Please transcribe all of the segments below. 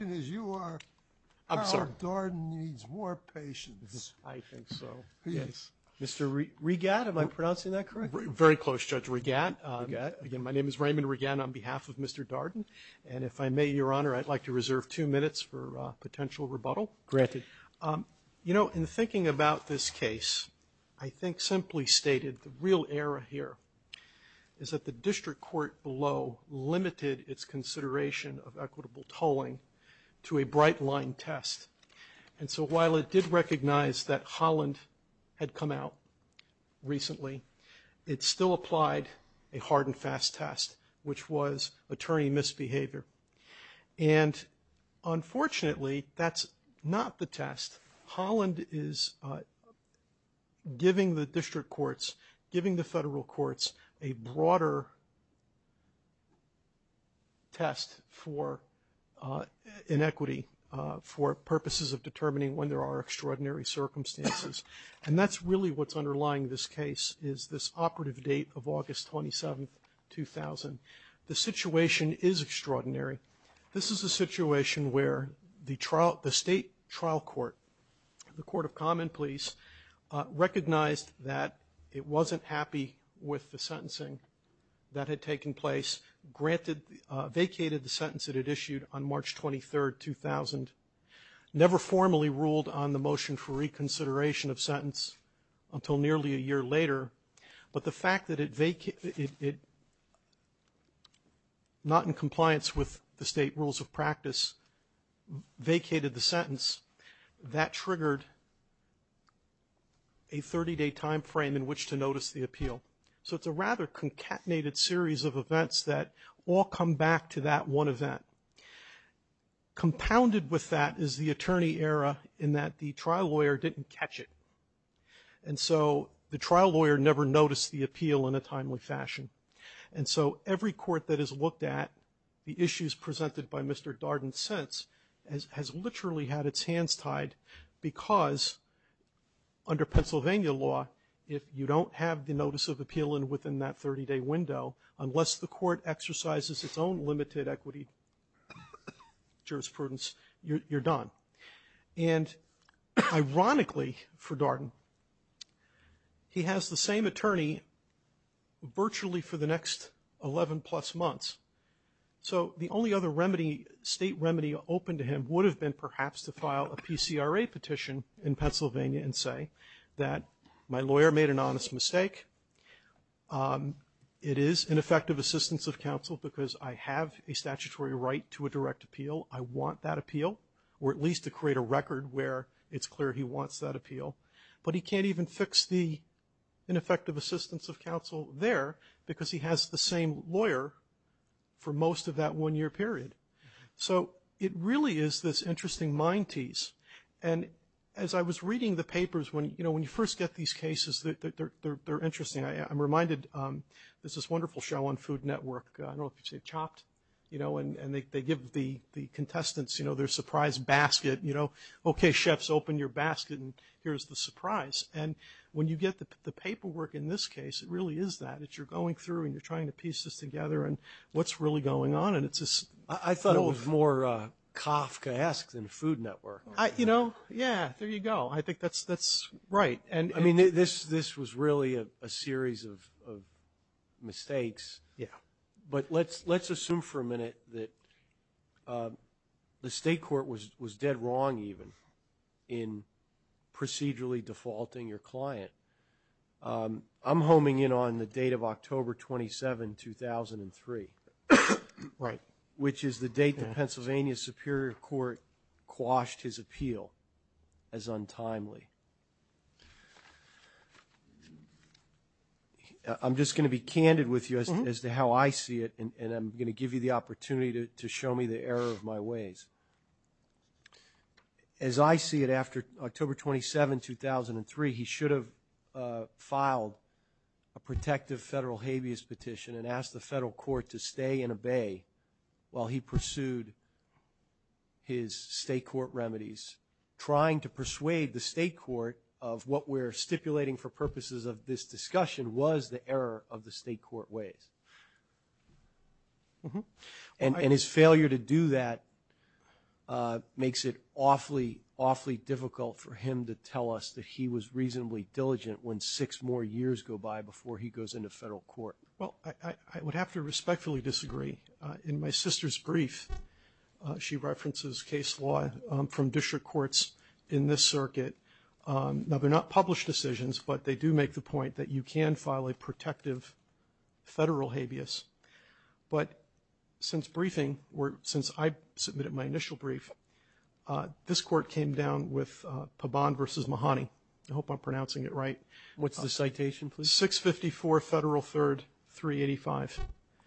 Mr. Regatt, am I pronouncing that correctly? Very close, Judge Regatt. Again, my name is Raymond Regatt on behalf of Mr. Darden, and if I may, Your Honor, I'd like to reserve two minutes for potential rebuttal. Granted. You know, in thinking about this case, I think simply stated, the real error here is that the district court below limited its consideration of equitable tolling to a bright line test. And so while it did recognize that Holland had come out recently, it still applied a hard and fast test, which was attorney misbehavior. And unfortunately, that's not the test. Holland is giving the district courts, giving the district courts for inequity, for purposes of determining when there are extraordinary circumstances. And that's really what's underlying this case, is this operative date of August 27, 2000. The situation is extraordinary. This is a situation where the trial, the state trial court, the Court of Common Pleas, recognized that it wasn't happy with the sentencing that it issued on March 23, 2000. Never formally ruled on the motion for reconsideration of sentence until nearly a year later. But the fact that it, not in compliance with the state rules of practice, vacated the sentence, that triggered a 30-day time frame in which to come back to that one event. Compounded with that is the attorney error in that the trial lawyer didn't catch it. And so the trial lawyer never noticed the appeal in a timely fashion. And so every court that has looked at the issues presented by Mr. Darden since has literally had its hands tied because under Pennsylvania law, if you don't have the notice of appeal within that 30-day window, unless the court exercises its own limited equity jurisprudence, you're done. And ironically for Darden, he has the same attorney virtually for the next 11 plus months. So the only other state remedy open to him would have been perhaps to file a PCRA petition in Pennsylvania and say that my lawyer made an honest mistake. It is ineffective assistance of counsel because I have a statutory right to a direct appeal. I want that appeal, or at least to create a record where it's clear he wants that appeal. But he can't even fix the ineffective assistance of counsel there because he has the same lawyer for most of that one-year period. So it really is this interesting mind tease. And as I was reading the papers, when you first get these cases, they're interesting. I'm reminded there's this wonderful show on Food Network, I don't know if you've seen Chopped, and they give the contestants their surprise basket. Okay, chefs, open your basket and here's the surprise. And when you get the paperwork in this case, it really is that. It's you're going through and you're trying to piece this together and what's really going on. I thought it was more Kafkaesque than Food Network. Yeah, there you go. I think that's right. I mean, this was really a series of mistakes. But let's assume for a minute that the state court was dead wrong even in procedurally defaulting your client. I'm homing in on the date of October 27, 2003, which is the date the Pennsylvania Superior Court quashed his appeal as untimely. I'm just going to be candid with you as to how I see it and I'm going to give you the opportunity to show me the error of my ways. As I see it, after October 27, 2003, he should have filed a protective federal habeas petition and asked the federal court to stay and obey while he pursued his state court remedies, trying to persuade the state court of what we're stipulating for purposes of this discussion was the error of the state court ways. And his failure to do that makes it awfully, awfully difficult for him to tell us that he was reasonably diligent when six more years go by before he goes into federal court. Well, I would have to respectfully disagree. In my sister's brief, she references case law from district courts in this circuit. Now, they're not published decisions, but they do make the point that you can file a protective federal habeas. But since briefing, since I submitted my initial brief, this court came down with Pabon v. Mahoney. I hope I'm pronouncing it right. What's the citation, please? 654 Federal 3rd 385.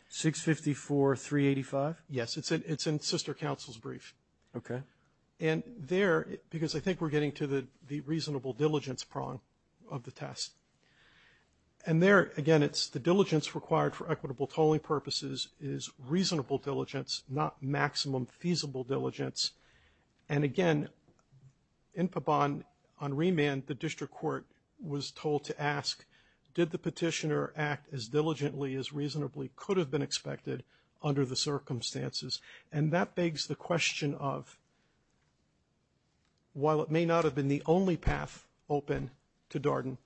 654 385? Yes. It's in sister counsel's brief. Okay. And there, because I think we're getting to the reasonable diligence prong of the test. And there, again, it's the diligence required for equitable tolling purposes is reasonable diligence, not maximum feasible diligence. And again, in Pabon, on remand, the district court was told to ask, did the petitioner act as diligently as reasonably could have been expected under the circumstances? And that begs the question of, while it may not have been the only path open to Darden,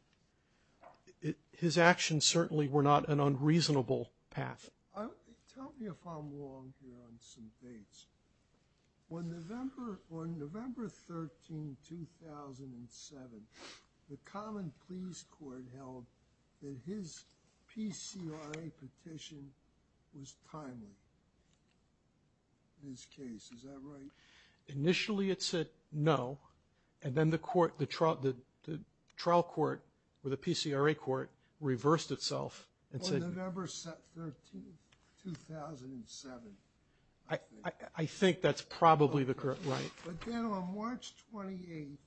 his actions certainly were not an unreasonable path. Tell me if I'm wrong here on some dates. On November 13, 2007, the Common Pleas Court had held that his PCRA petition was timely in this case. Is that right? Initially it said no. And then the court, the trial court, or the PCRA court, reversed itself and said- On November 13, 2007, I think. I think that's probably the correct, right. But then on March 28,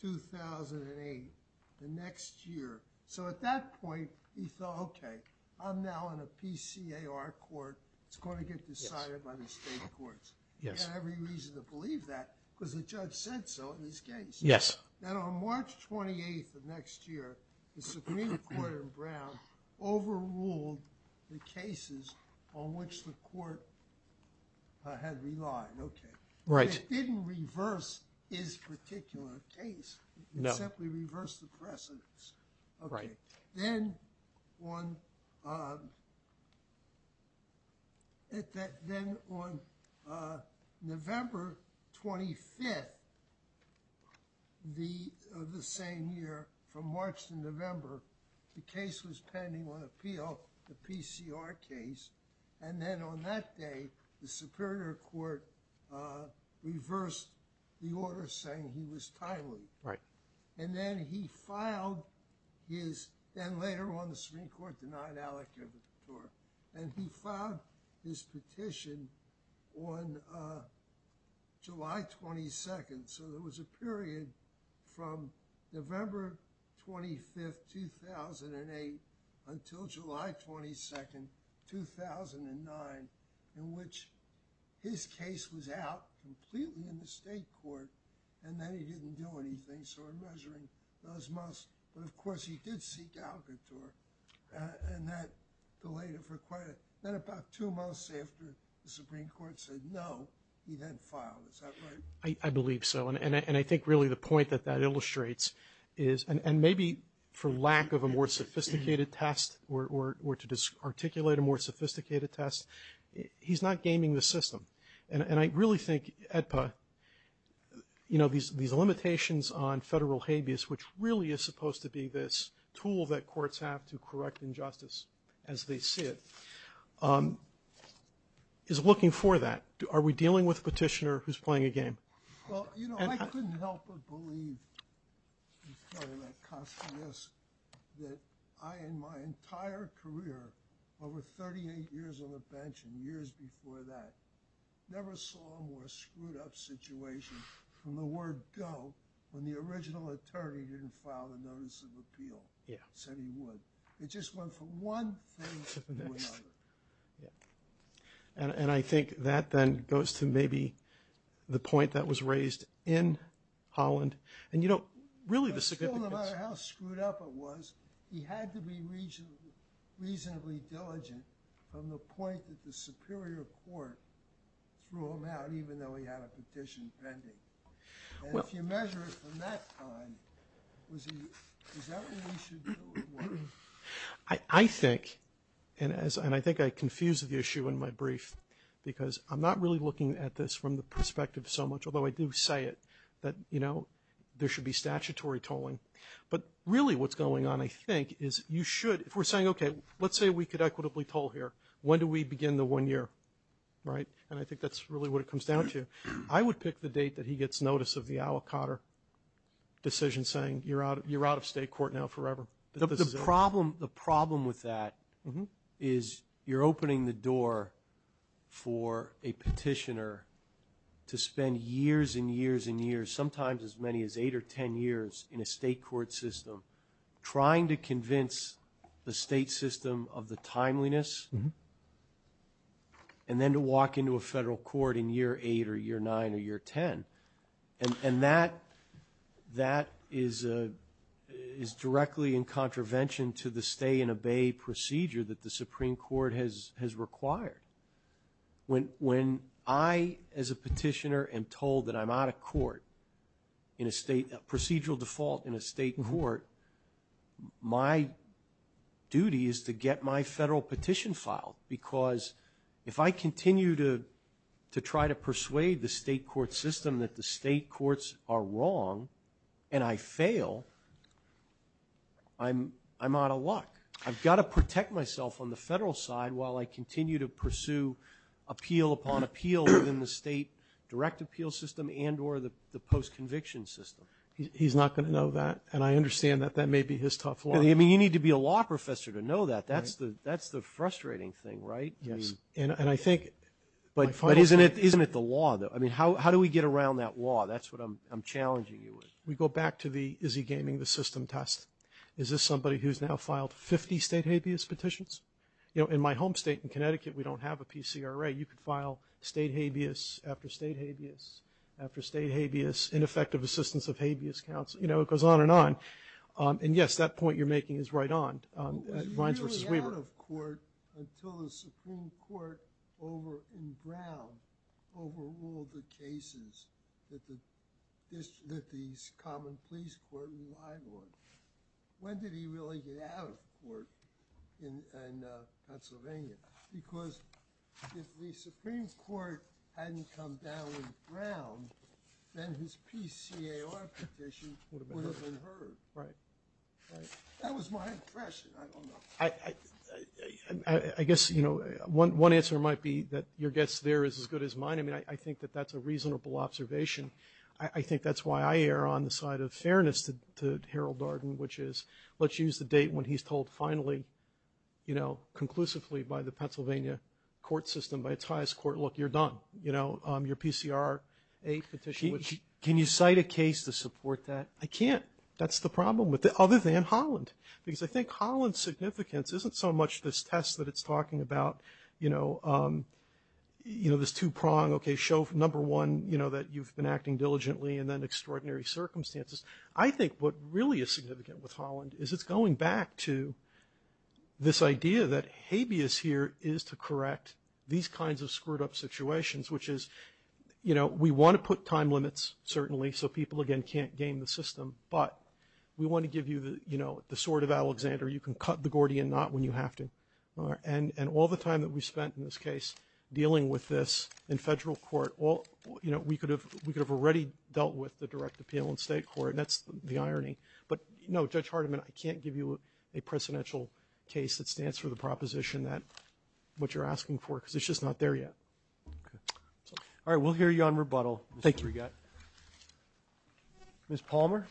2008, the next year, so at that point, he thought, okay, I'm now on a PCAR court. It's going to get decided by the state courts. He had every reason to believe that because the judge said so in his case. Yes. Then on March 28 of next year, the Supreme Court in Brown overruled the cases on which the court had relied. Right. It didn't reverse his particular case. No. It simply reversed the precedence. Right. Then on November 25th of the same year, from March to November, the case was pending on that day, the Superior Court reversed the order saying he was timely. Right. And then he filed his, and later on the Supreme Court denied Alec Gibbett the tort. And he filed his petition on July 22nd. So there was a period from November 25th, 2008, until July 22nd, 2009, in which his case was out completely in the state court, and then he didn't do anything. So in measuring those months, but of course he did seek out the tort, and that delayed it for quite a, then about two months after the Supreme Court said no, he then filed. Is that right? I believe so. And I think really the point that that illustrates is, and maybe for lack of a more sophisticated test, or to articulate a more sophisticated test, he's not gaming the system. And I really think EDPA, you know, these limitations on federal habeas, which really is supposed to be this tool that courts have to correct injustice as they see it, is looking for that. Are we dealing with a petitioner who's playing a game? Well, you know, I couldn't help but believe that I, in my entire career, over 38 years on the bench and years before that, never saw a more screwed up situation from the word go, when the original attorney didn't file a notice of appeal, said he would. It just went from one thing to another. And I think that then goes to maybe the point that was raised in Holland. And you know, really the significance... But still, no matter how screwed up it was, he had to be reasonably diligent from the point that the Superior Court threw him out, even though he had a petition pending. And if you measure it from that time, was he, is that what he should do? I think, and I think I confused the issue in my brief, because I'm not really looking at this from the perspective so much, although I do say it, that, you know, there should be statutory tolling. But really what's going on, I think, is you should, if we're saying, okay, let's say we could equitably toll here. When do we begin the one year? Right? And I think that's really what it comes down to. I would pick the date that he gets notice of the Alcott decision saying, you're out of state court now forever. The problem with that is you're opening the door for a petitioner to spend years and years and years, sometimes as many as 8 or 10 years in a state court system, trying to convince the state system of the timeliness, and then to walk into a federal court in year 8 or year 9 or year 10. And that is directly in contravention to the stay and obey procedure that the Supreme Court has required. When I, as a petitioner, am told that I'm out of court in a state, procedural default in a state court, my duty is to get my federal court system that the state courts are wrong, and I fail, I'm out of luck. I've got to protect myself on the federal side while I continue to pursue appeal upon appeal within the state direct appeal system and or the post-conviction system. He's not going to know that, and I understand that that may be his tough law. I mean, you need to be a law professor to know that. That's the frustrating thing, right? Yes, and I think... But isn't it the law, though? I mean, how do we get around that law? That's what I'm challenging you with. We go back to the Izzy Gaming, the system test. Is this somebody who's now filed 50 state habeas petitions? You know, in my home state in Connecticut, we don't have a PCRA. You could file state habeas after state habeas after state habeas, ineffective assistance of habeas counsel. You know, it goes on and on. And yes, that point you're making is right on Reince v. Weaver. He was really out of court until the Supreme Court in Brown overruled the cases that the Common Pleas Court relied on. When did he really get out of court in Pennsylvania? Because if the Supreme Court hadn't come down with Brown, then his PCAR petition would have been heard. Right, right. That was my impression. I don't know. I guess, you know, one answer might be that your guess there is as good as mine. I mean, I think that that's a reasonable observation. I think that's why I err on the side of fairness to Harold Darden, which is, let's use the date when he's told finally, you know, conclusively by the Pennsylvania court system, by its highest court, look, you're done. You know, your PCRA petition... Can you cite a case to support that? I can't. That's the problem, other than Holland. Because I think Holland's significance isn't so much this test that it's talking about, you know, this two-prong, okay, show number one, you know, that you've been acting diligently and then extraordinary circumstances. I think what really is significant with Holland is it's going back to this idea that habeas here is to correct these kinds of screwed-up situations, which is, you know, we want to put time limits, certainly, so people, again, can't game the system. But we want to give you, you know, the sword of Alexander. You can cut the Gordian knot when you have to. And all the time that we spent in this case dealing with this in federal court, you know, we could have already dealt with the direct appeal in state court. And that's the irony. But, no, Judge Hardiman, I can't give you a precedential case that stands for the proposition that what you're asking for, because it's just not there yet. All right, we'll hear you on rebuttal. Thank you. Ms. Palmer?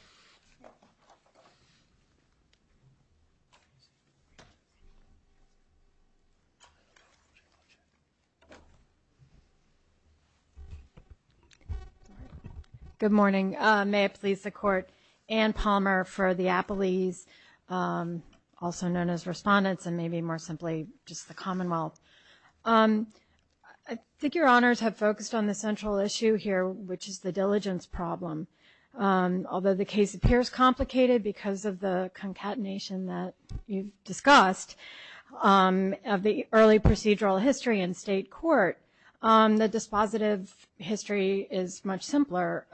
Good morning. May it please the Court, Ann Palmer for the Appellees, also known as Respondents, and maybe more simply, just the Commonwealth. I think your honors have focused on the central issue here, which is the diligence problem. Although the case appears complicated because of the concatenation that you've discussed of the early procedural history in state court, the dispositive history is much simpler.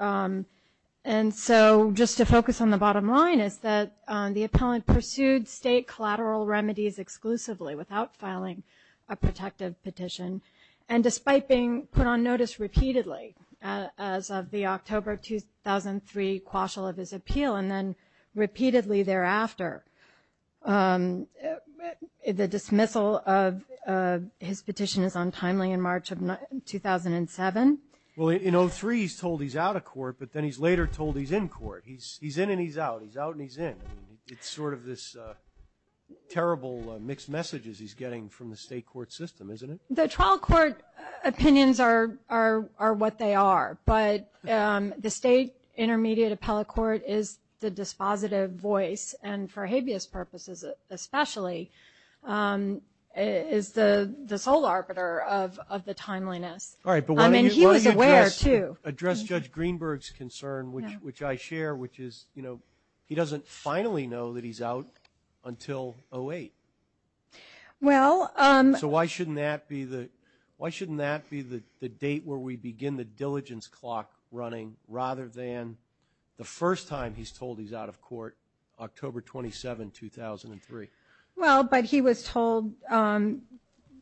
And so, just to focus on the bottom line, is that the appellant pursued state collateral remedies exclusively without filing a protective petition. And despite being put on notice repeatedly as of the October 2003 quashal of his appeal, and then repeatedly thereafter, the dismissal of his petition is untimely in March of 2007. Well, in 03, he's told he's out of court, but then he's later told he's in court. He's in and he's out. He's out and he's in. It's sort of this terrible mixed messages he's getting from the state court system, isn't it? The trial court opinions are what they are. But the state intermediate appellate court is the dispositive voice, and for habeas purposes especially, is the sole arbiter of the timeliness. All right, but why don't you address Judge Greenberg's concern, which I share, which is he doesn't finally know that he's out until 08. So why shouldn't that be the date where we begin the diligence clock running, rather than the first time he's told he's out of court, October 27, 2003? Well, but he was told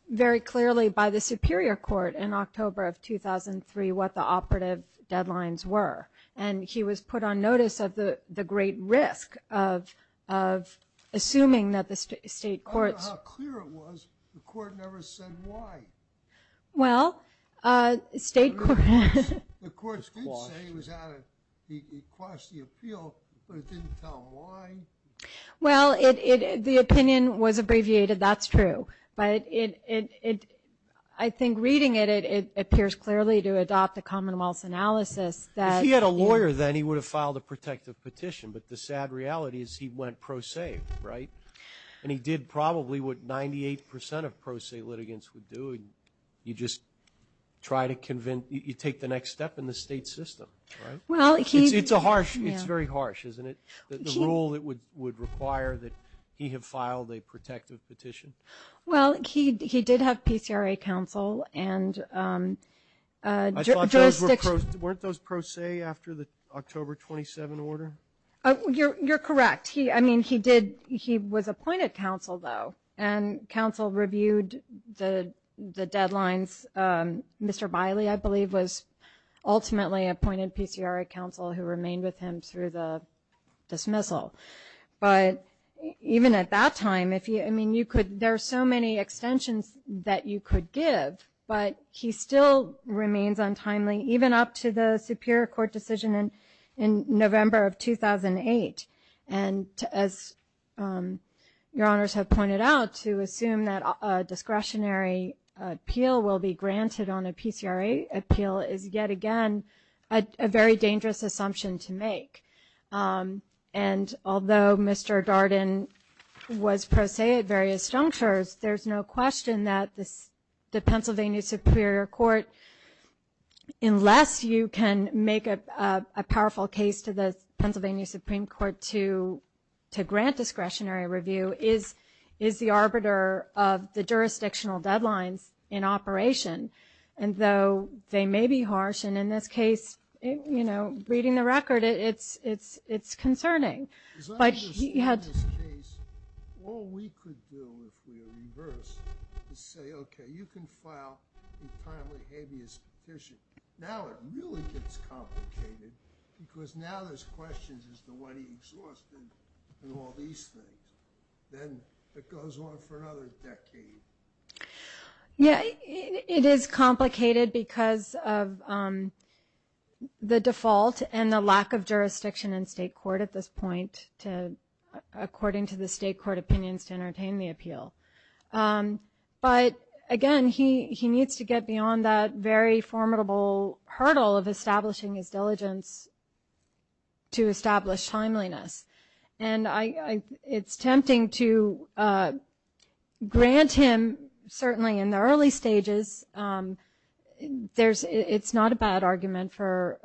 very clearly by the superior court in October of 2003 what the operative deadlines were. And he was put on notice of the great risk of assuming that the state courts – I don't know how clear it was. The court never said why. Well, state courts – The courts did say he was out of – he quashed the appeal, but it didn't tell him why. Well, the opinion was abbreviated. That's true. But I think reading it, it appears clearly to adopt a commonwealth's analysis that – If he had a lawyer then, he would have filed a protective petition. But the sad reality is he went pro se, right? And he did probably what 98% of pro se litigants would do, and you just try to convince – you take the next step in the state system, right? Well, he – It's a harsh – it's very harsh, isn't it, the rule that would require that he have filed a protective petition? Well, he did have PCRA counsel and jurisdiction – Weren't those pro se after the October 27 order? You're correct. He – I mean, he did – he was appointed counsel, though, and counsel reviewed the deadlines. Mr. Biley, I believe, was ultimately appointed PCRA counsel who remained with him through the dismissal. But even at that time, if you – I mean, you could – there are so many extensions that you could give, but he still remains untimely, even up to the Superior Court decision in November of 2008. And as Your Honors have pointed out, to assume that a discretionary appeal will be granted on a PCRA appeal is, yet again, a very dangerous assumption to make. And although Mr. Darden was pro se at various junctures, there's no question that the Pennsylvania Superior Court, unless you can make a powerful case to the Pennsylvania Supreme Court to grant discretionary review, is the arbiter of the jurisdictional deadlines in operation. And though they may be harsh, and in this case, you know, reading the record, it's concerning. As I understand this case, all we could do, if we were reversed, is say, okay, you can file a timely habeas petition. Now it really gets complicated, because now there's questions as to what he exhausted and all these things. Then it goes on for another decade. Yeah, it is complicated because of the default and the lack of jurisdiction in state court at this point, according to the state court opinions, to entertain the appeal. But, again, he needs to get beyond that very formidable hurdle of establishing his diligence to establish timeliness. And it's tempting to grant him, certainly in the early stages, it's not a bad argument for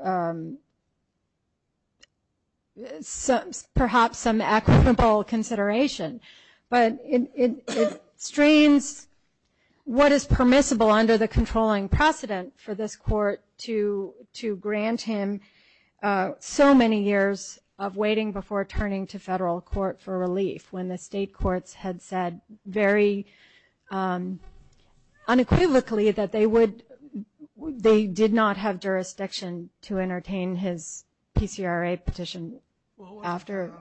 perhaps some equitable consideration, but it strains what is permissible under the controlling precedent for this court to grant him so many years of waiting when the state courts had said very unequivocally that they did not have jurisdiction to entertain his PCRA petition after.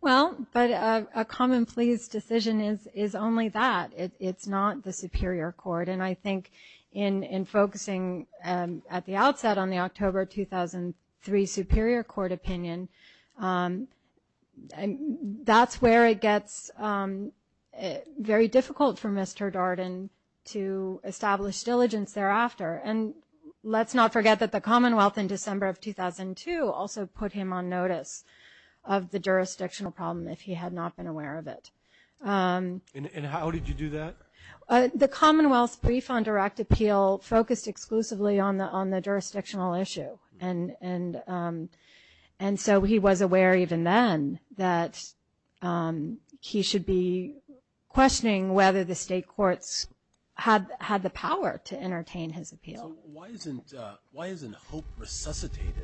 Well, but a common pleas decision is only that. It's not the superior court. And I think in focusing at the outset on the October 2003 superior court opinion, that's where it gets very difficult for Mr. Darden to establish diligence thereafter. And let's not forget that the Commonwealth in December of 2002 also put him on notice of the jurisdictional problem if he had not been aware of it. And how did you do that? The Commonwealth's brief on direct appeal focused exclusively on the jurisdictional issue. And so he was aware even then that he should be questioning whether the state courts had the power to entertain his appeal. So why isn't hope resuscitated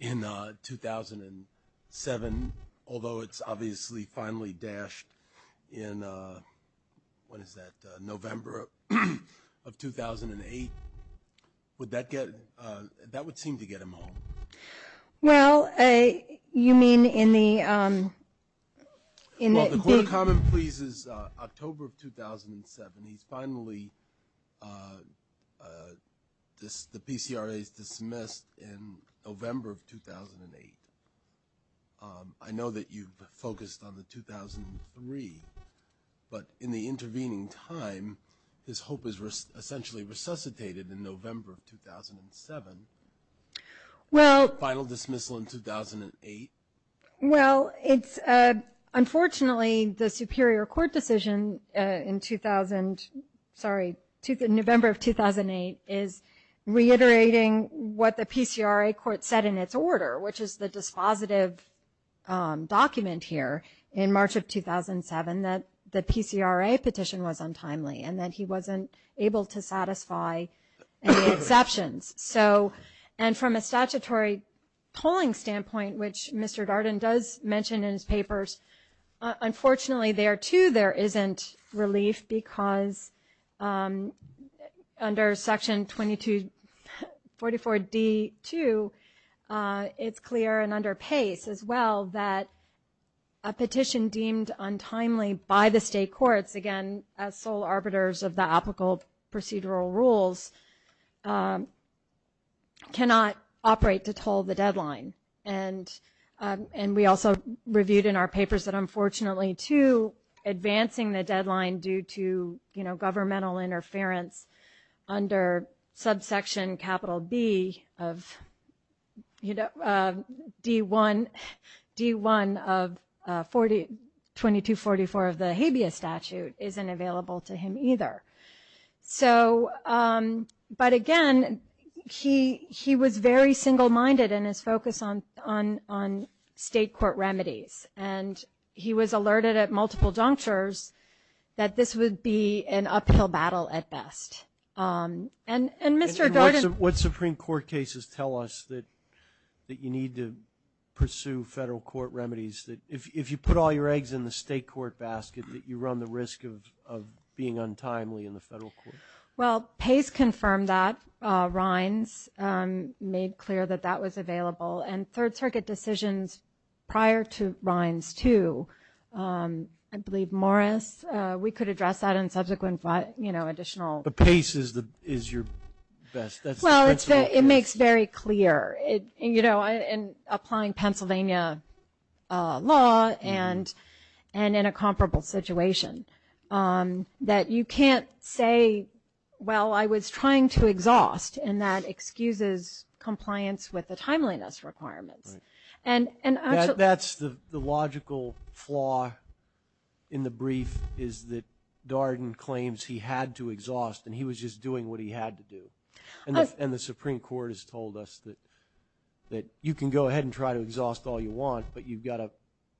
in 2007, although it's obviously finally dashed in, what is that, November of 2008? That would seem to get him home. Well, you mean in the- Well, the court of common pleas is October of 2007. He's finally, the PCRA's dismissed in November of 2008. I know that you've focused on the 2003, but in the intervening time his hope has essentially resuscitated in November of 2007. Well- Final dismissal in 2008. Well, it's unfortunately the superior court decision in 2000, sorry, November of 2008 is reiterating what the PCRA court said in its order, which is the dispositive document here in March of 2007 that the PCRA petition was untimely and that he wasn't able to satisfy any exceptions. And from a statutory polling standpoint, which Mr. Darden does mention in his papers, unfortunately there too there isn't relief because under section 244D2 it's clear and under pace as well that a petition deemed untimely by the state courts, again as sole arbiters of the applicable procedural rules, cannot operate to toll the deadline. And we also reviewed in our papers that unfortunately too advancing the deadline due to governmental interference under subsection capital B of D1 of 2244 of the habeas statute isn't available to him either. So, but again, he was very single-minded in his focus on state court remedies and he was alerted at multiple junctures that this would be an uphill battle at best. And Mr. Darden- What Supreme Court cases tell us that you need to pursue federal court remedies? That if you put all your eggs in the state court basket that you run the risk of being untimely in the federal court? Well, PACE confirmed that. RINES made clear that that was available. And Third Circuit decisions prior to RINES too. I believe Morris, we could address that in subsequent additional- But PACE is your best- Well, it makes very clear. In applying Pennsylvania law and in a comparable situation, that you can't say, well, I was trying to exhaust, and that excuses compliance with the timeliness requirements. And actually- That's the logical flaw in the brief is that Darden claims he had to exhaust and he was just doing what he had to do. And the Supreme Court has told us that you can go ahead and try to exhaust all you want, but you've got to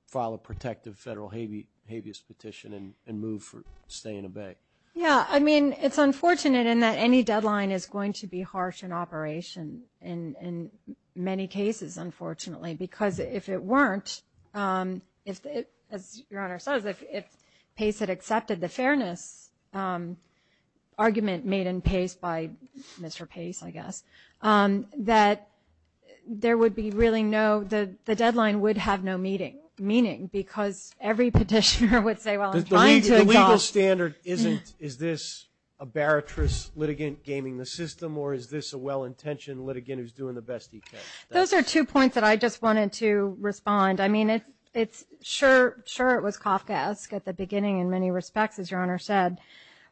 file a protective federal habeas petition and move for stay and obey. Yeah, I mean, it's unfortunate in that any deadline is going to be harsh in operation in many cases, unfortunately, because if it weren't, as Your Honor says, if PACE had accepted the fairness argument made in PACE by Mr. PACE, I guess, that there would be really no- the deadline would have no meaning because every petitioner would say, well, I'm trying to exhaust- The legal standard isn't, is this a baritrous litigant gaming the system or is this a well-intentioned litigant who's doing the best he can? Those are two points that I just wanted to respond. I mean, sure it was Kafkaesque at the beginning in many respects, as Your Honor said,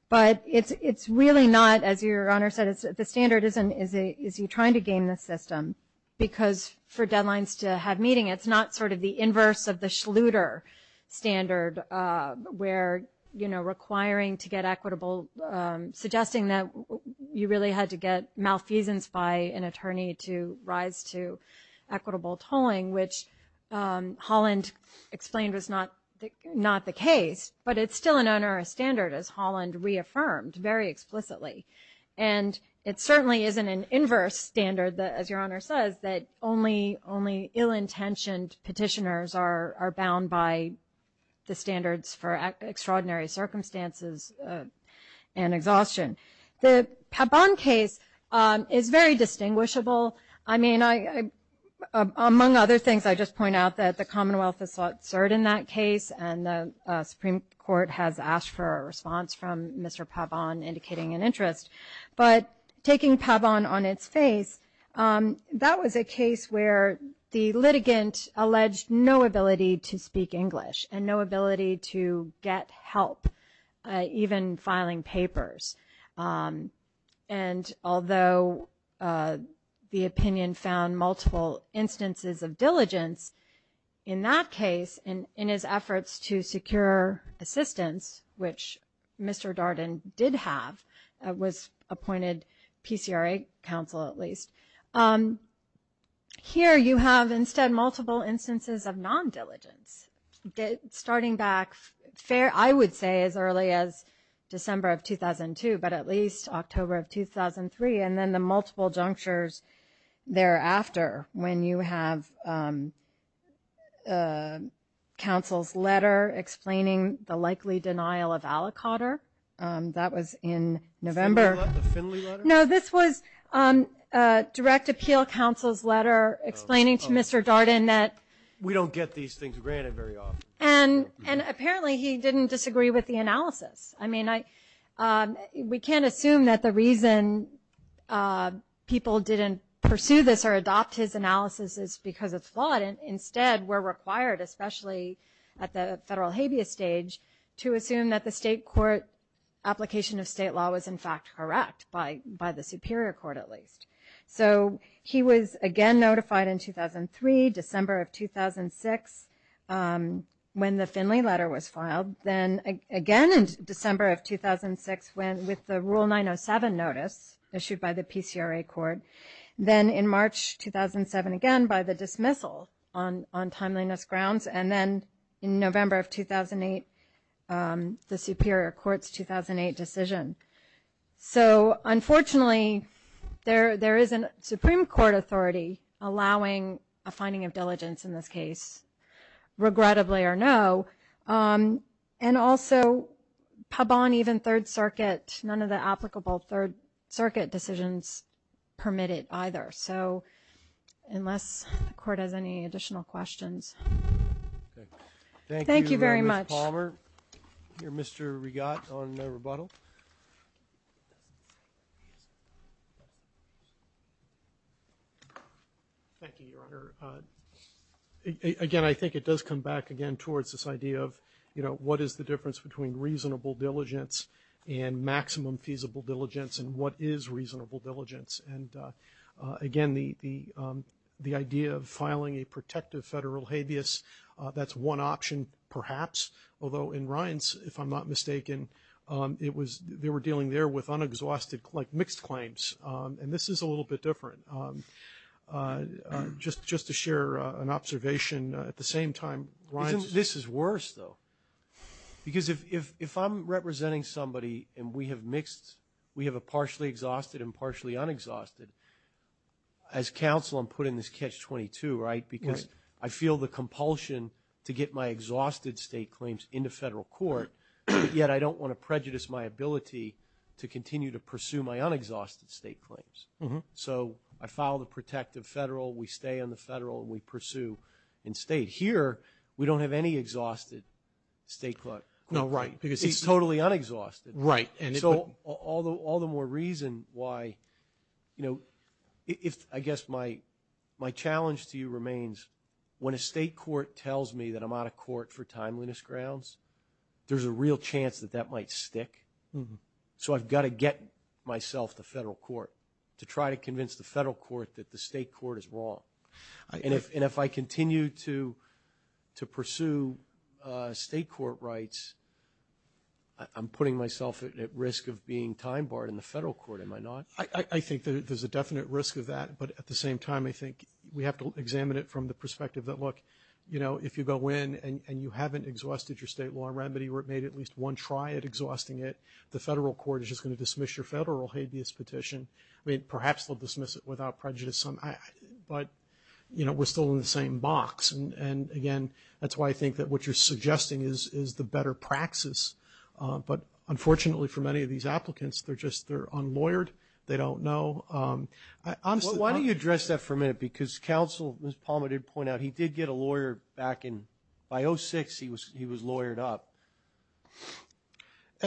but it's really not, as Your Honor said, the standard isn't, is he trying to game the system because for deadlines to have meaning, it's not sort of the inverse of the Schluter standard where requiring to get equitable- suggesting that you really had to get malfeasance by an attorney to rise to equitable tolling, which Holland explained was not the case, but it's still an onerous standard, as Holland reaffirmed very explicitly. And it certainly isn't an inverse standard, as Your Honor says, that only ill-intentioned petitioners are bound by the standards for extraordinary circumstances and exhaustion. The Pabon case is very distinguishable. I mean, among other things, I just point out that the Commonwealth has served in that case and the Supreme Court has asked for a response from Mr. Pabon indicating an interest. But taking Pabon on its face, that was a case where the litigant alleged no ability to speak English and no ability to get help, even filing papers. And although the opinion found multiple instances of diligence, in that case, in his efforts to secure assistance, which Mr. Darden did have, was appointed PCRA counsel, at least, here you have, instead, multiple instances of non-diligence, starting back, I would say, as early as December of 2002, but at least October of 2003, and then the multiple junctures thereafter when you have counsel's letter explaining the likely denial of aliquotter. That was in November. No, this was direct appeal counsel's letter explaining to Mr. Darden that we don't get these things granted very often. And apparently he didn't disagree with the analysis. I mean, we can't assume that the reason people didn't pursue this or adopt his analysis is because it's flawed. Instead, we're required, especially at the federal habeas stage, to assume that the state court application of state law was, in fact, correct, by the superior court, at least. So he was again notified in 2003, December of 2006, when the Finley letter was filed, then again in December of 2006 with the Rule 907 notice issued by the PCRA court, then in March 2007 again by the dismissal on timeliness grounds, and then in November of 2008, the superior court's 2008 decision. So, unfortunately, there is a Supreme Court authority allowing a finding of diligence in this case, regrettably or no, and also Pabon, even Third Circuit, none of the applicable Third Circuit decisions permitted either. So unless the court has any additional questions. Thank you very much. Thank you, Ms. Palmer. Mr. Regatt on rebuttal. Thank you, Your Honor. Again, I think it does come back again towards this idea of, you know, what is the difference between reasonable diligence and maximum feasible diligence and what is reasonable diligence? And, again, the idea of filing a protective federal habeas, that's one option perhaps, although in Ryan's, if I'm not mistaken, it was they were dealing there with unexhausted, like mixed claims, and this is a little bit different. Just to share an observation at the same time, Ryan's is. This is worse, though, because if I'm representing somebody and we have mixed, we have a partially exhausted and partially unexhausted, as counsel, I'm putting this catch-22, right? Because I feel the compulsion to get my exhausted state claims into federal court, yet I don't want to prejudice my ability to continue to pursue my unexhausted state claims. So I file the protective federal, we stay on the federal, and we pursue in state. Here, we don't have any exhausted state claims. No, right. It's totally unexhausted. Right. So all the more reason why, you know, if I guess my challenge to you remains, when a state court tells me that I'm out of court for timeliness grounds, there's a real chance that that might stick. So I've got to get myself to federal court to try to convince the federal court that the state court is wrong. And if I continue to pursue state court rights, I'm putting myself at risk of being time-barred in the federal court, am I not? I think that there's a definite risk of that, but at the same time, I think we have to examine it from the perspective that, look, you know, if you go in and you haven't exhausted your state law remedy or it made at least one try at exhausting it, the federal court is just going to dismiss your federal habeas petition. I mean, perhaps they'll dismiss it without prejudice. But, you know, we're still in the same box. And, again, that's why I think that what you're suggesting is the better praxis. But unfortunately for many of these applicants, they're just unlawyered. They don't know. Why don't you address that for a minute? Because counsel, as Ms. Palmer did point out, he did get a lawyer back in – by 2006, he was lawyered up.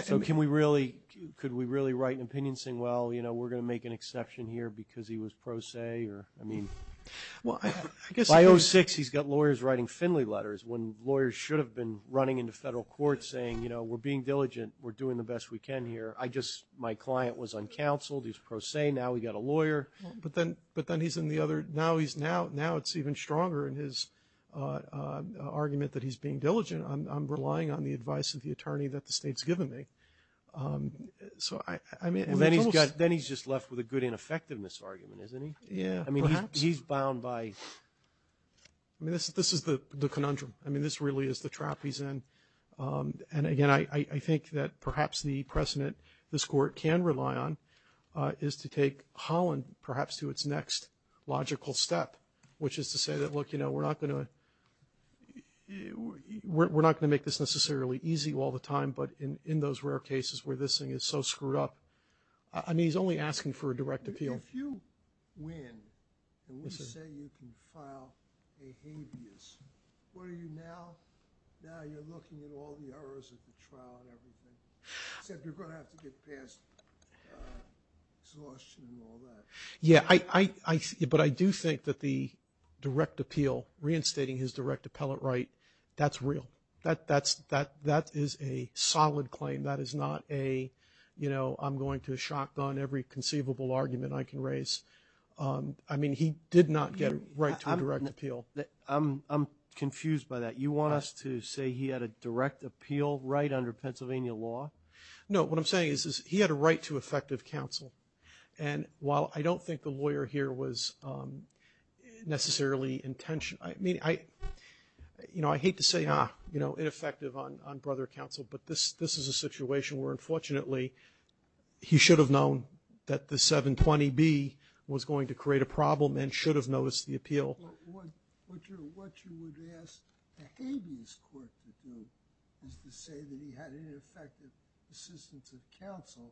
So can we really – could we really write an opinion saying, well, you know, we're going to make an exception here because he was pro se or, I mean – Well, I guess – By 2006, he's got lawyers writing Finley letters, when lawyers should have been running into federal courts saying, you know, we're being diligent. We're doing the best we can here. I just – my client was uncounseled. He was pro se. Now we've got a lawyer. But then he's in the other – now he's – now it's even stronger in his argument that he's being diligent. I'm relying on the advice of the attorney that the state's given me. So I mean – And then he's just left with a good ineffectiveness argument, isn't he? Yeah, perhaps. I mean, he's bound by – I mean, this is the conundrum. I mean, this really is the trap he's in. And, again, I think that perhaps the precedent this Court can rely on is to take Holland perhaps to its next logical step, which is to say that, look, you know, we're not going to – we're not going to make this necessarily easy all the time, but in those rare cases where this thing is so screwed up – I mean, he's only asking for a direct appeal. If you win and we say you can file a habeas, what are you now? Now you're looking at all the errors of the trial and everything, except you're going to have to get past exhaustion and all that. Yeah, I – but I do think that the direct appeal, reinstating his direct appellate right, that's real. That is a solid claim. That is not a, you know, I'm going to shotgun every conceivable argument I can raise. I mean, he did not get a right to a direct appeal. I'm confused by that. You want us to say he had a direct appeal right under Pennsylvania law? No, what I'm saying is he had a right to effective counsel. And while I don't think the lawyer here was necessarily intention – I mean, I – you know, I hate to say, ah, you know, ineffective on brother counsel, but this is a situation where, unfortunately, he should have known that the 720B was going to create a problem and should have noticed the appeal. What you would ask a habeas court to do is to say that he had ineffective assistance of counsel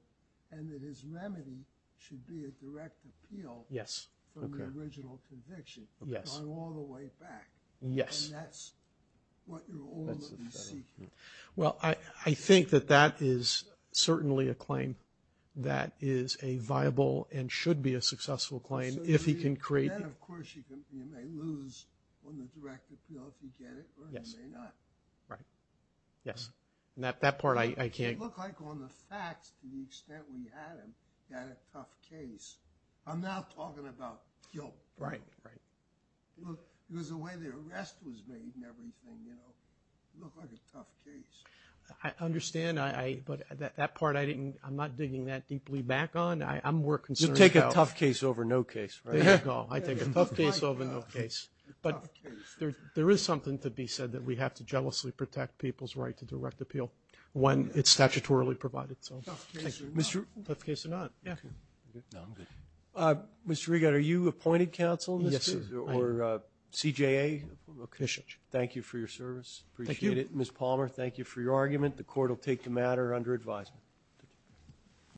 and that his remedy should be a direct appeal from the original conviction going all the way back. Yes. And that's what you're all looking to see here. Well, I think that that is certainly a claim that is a viable and should be a successful claim if he can create – Then, of course, you may lose on the direct appeal if you get it or you may not. Right. Yes. That part I can't – It looked like on the facts to the extent we had him, he had a tough case. I'm now talking about guilt. Right, right. Because the way the arrest was made and everything, you know, it looked like a tough case. I understand, but that part I didn't – I'm not digging that deeply back on. I'm more concerned about – You'll take a tough case over no case, right? There you go. I take a tough case over no case. But there is something to be said that we have to jealously protect people's right to direct appeal when it's statutorily provided. Tough case or not. Tough case or not. Yeah. No, I'm good. Mr. Regan, are you appointed counsel in this case? Yes, sir. Or CJA? Thank you for your service. Appreciate it. Thank you. Ms. Palmer, thank you for your argument. The court will take the matter under advisement.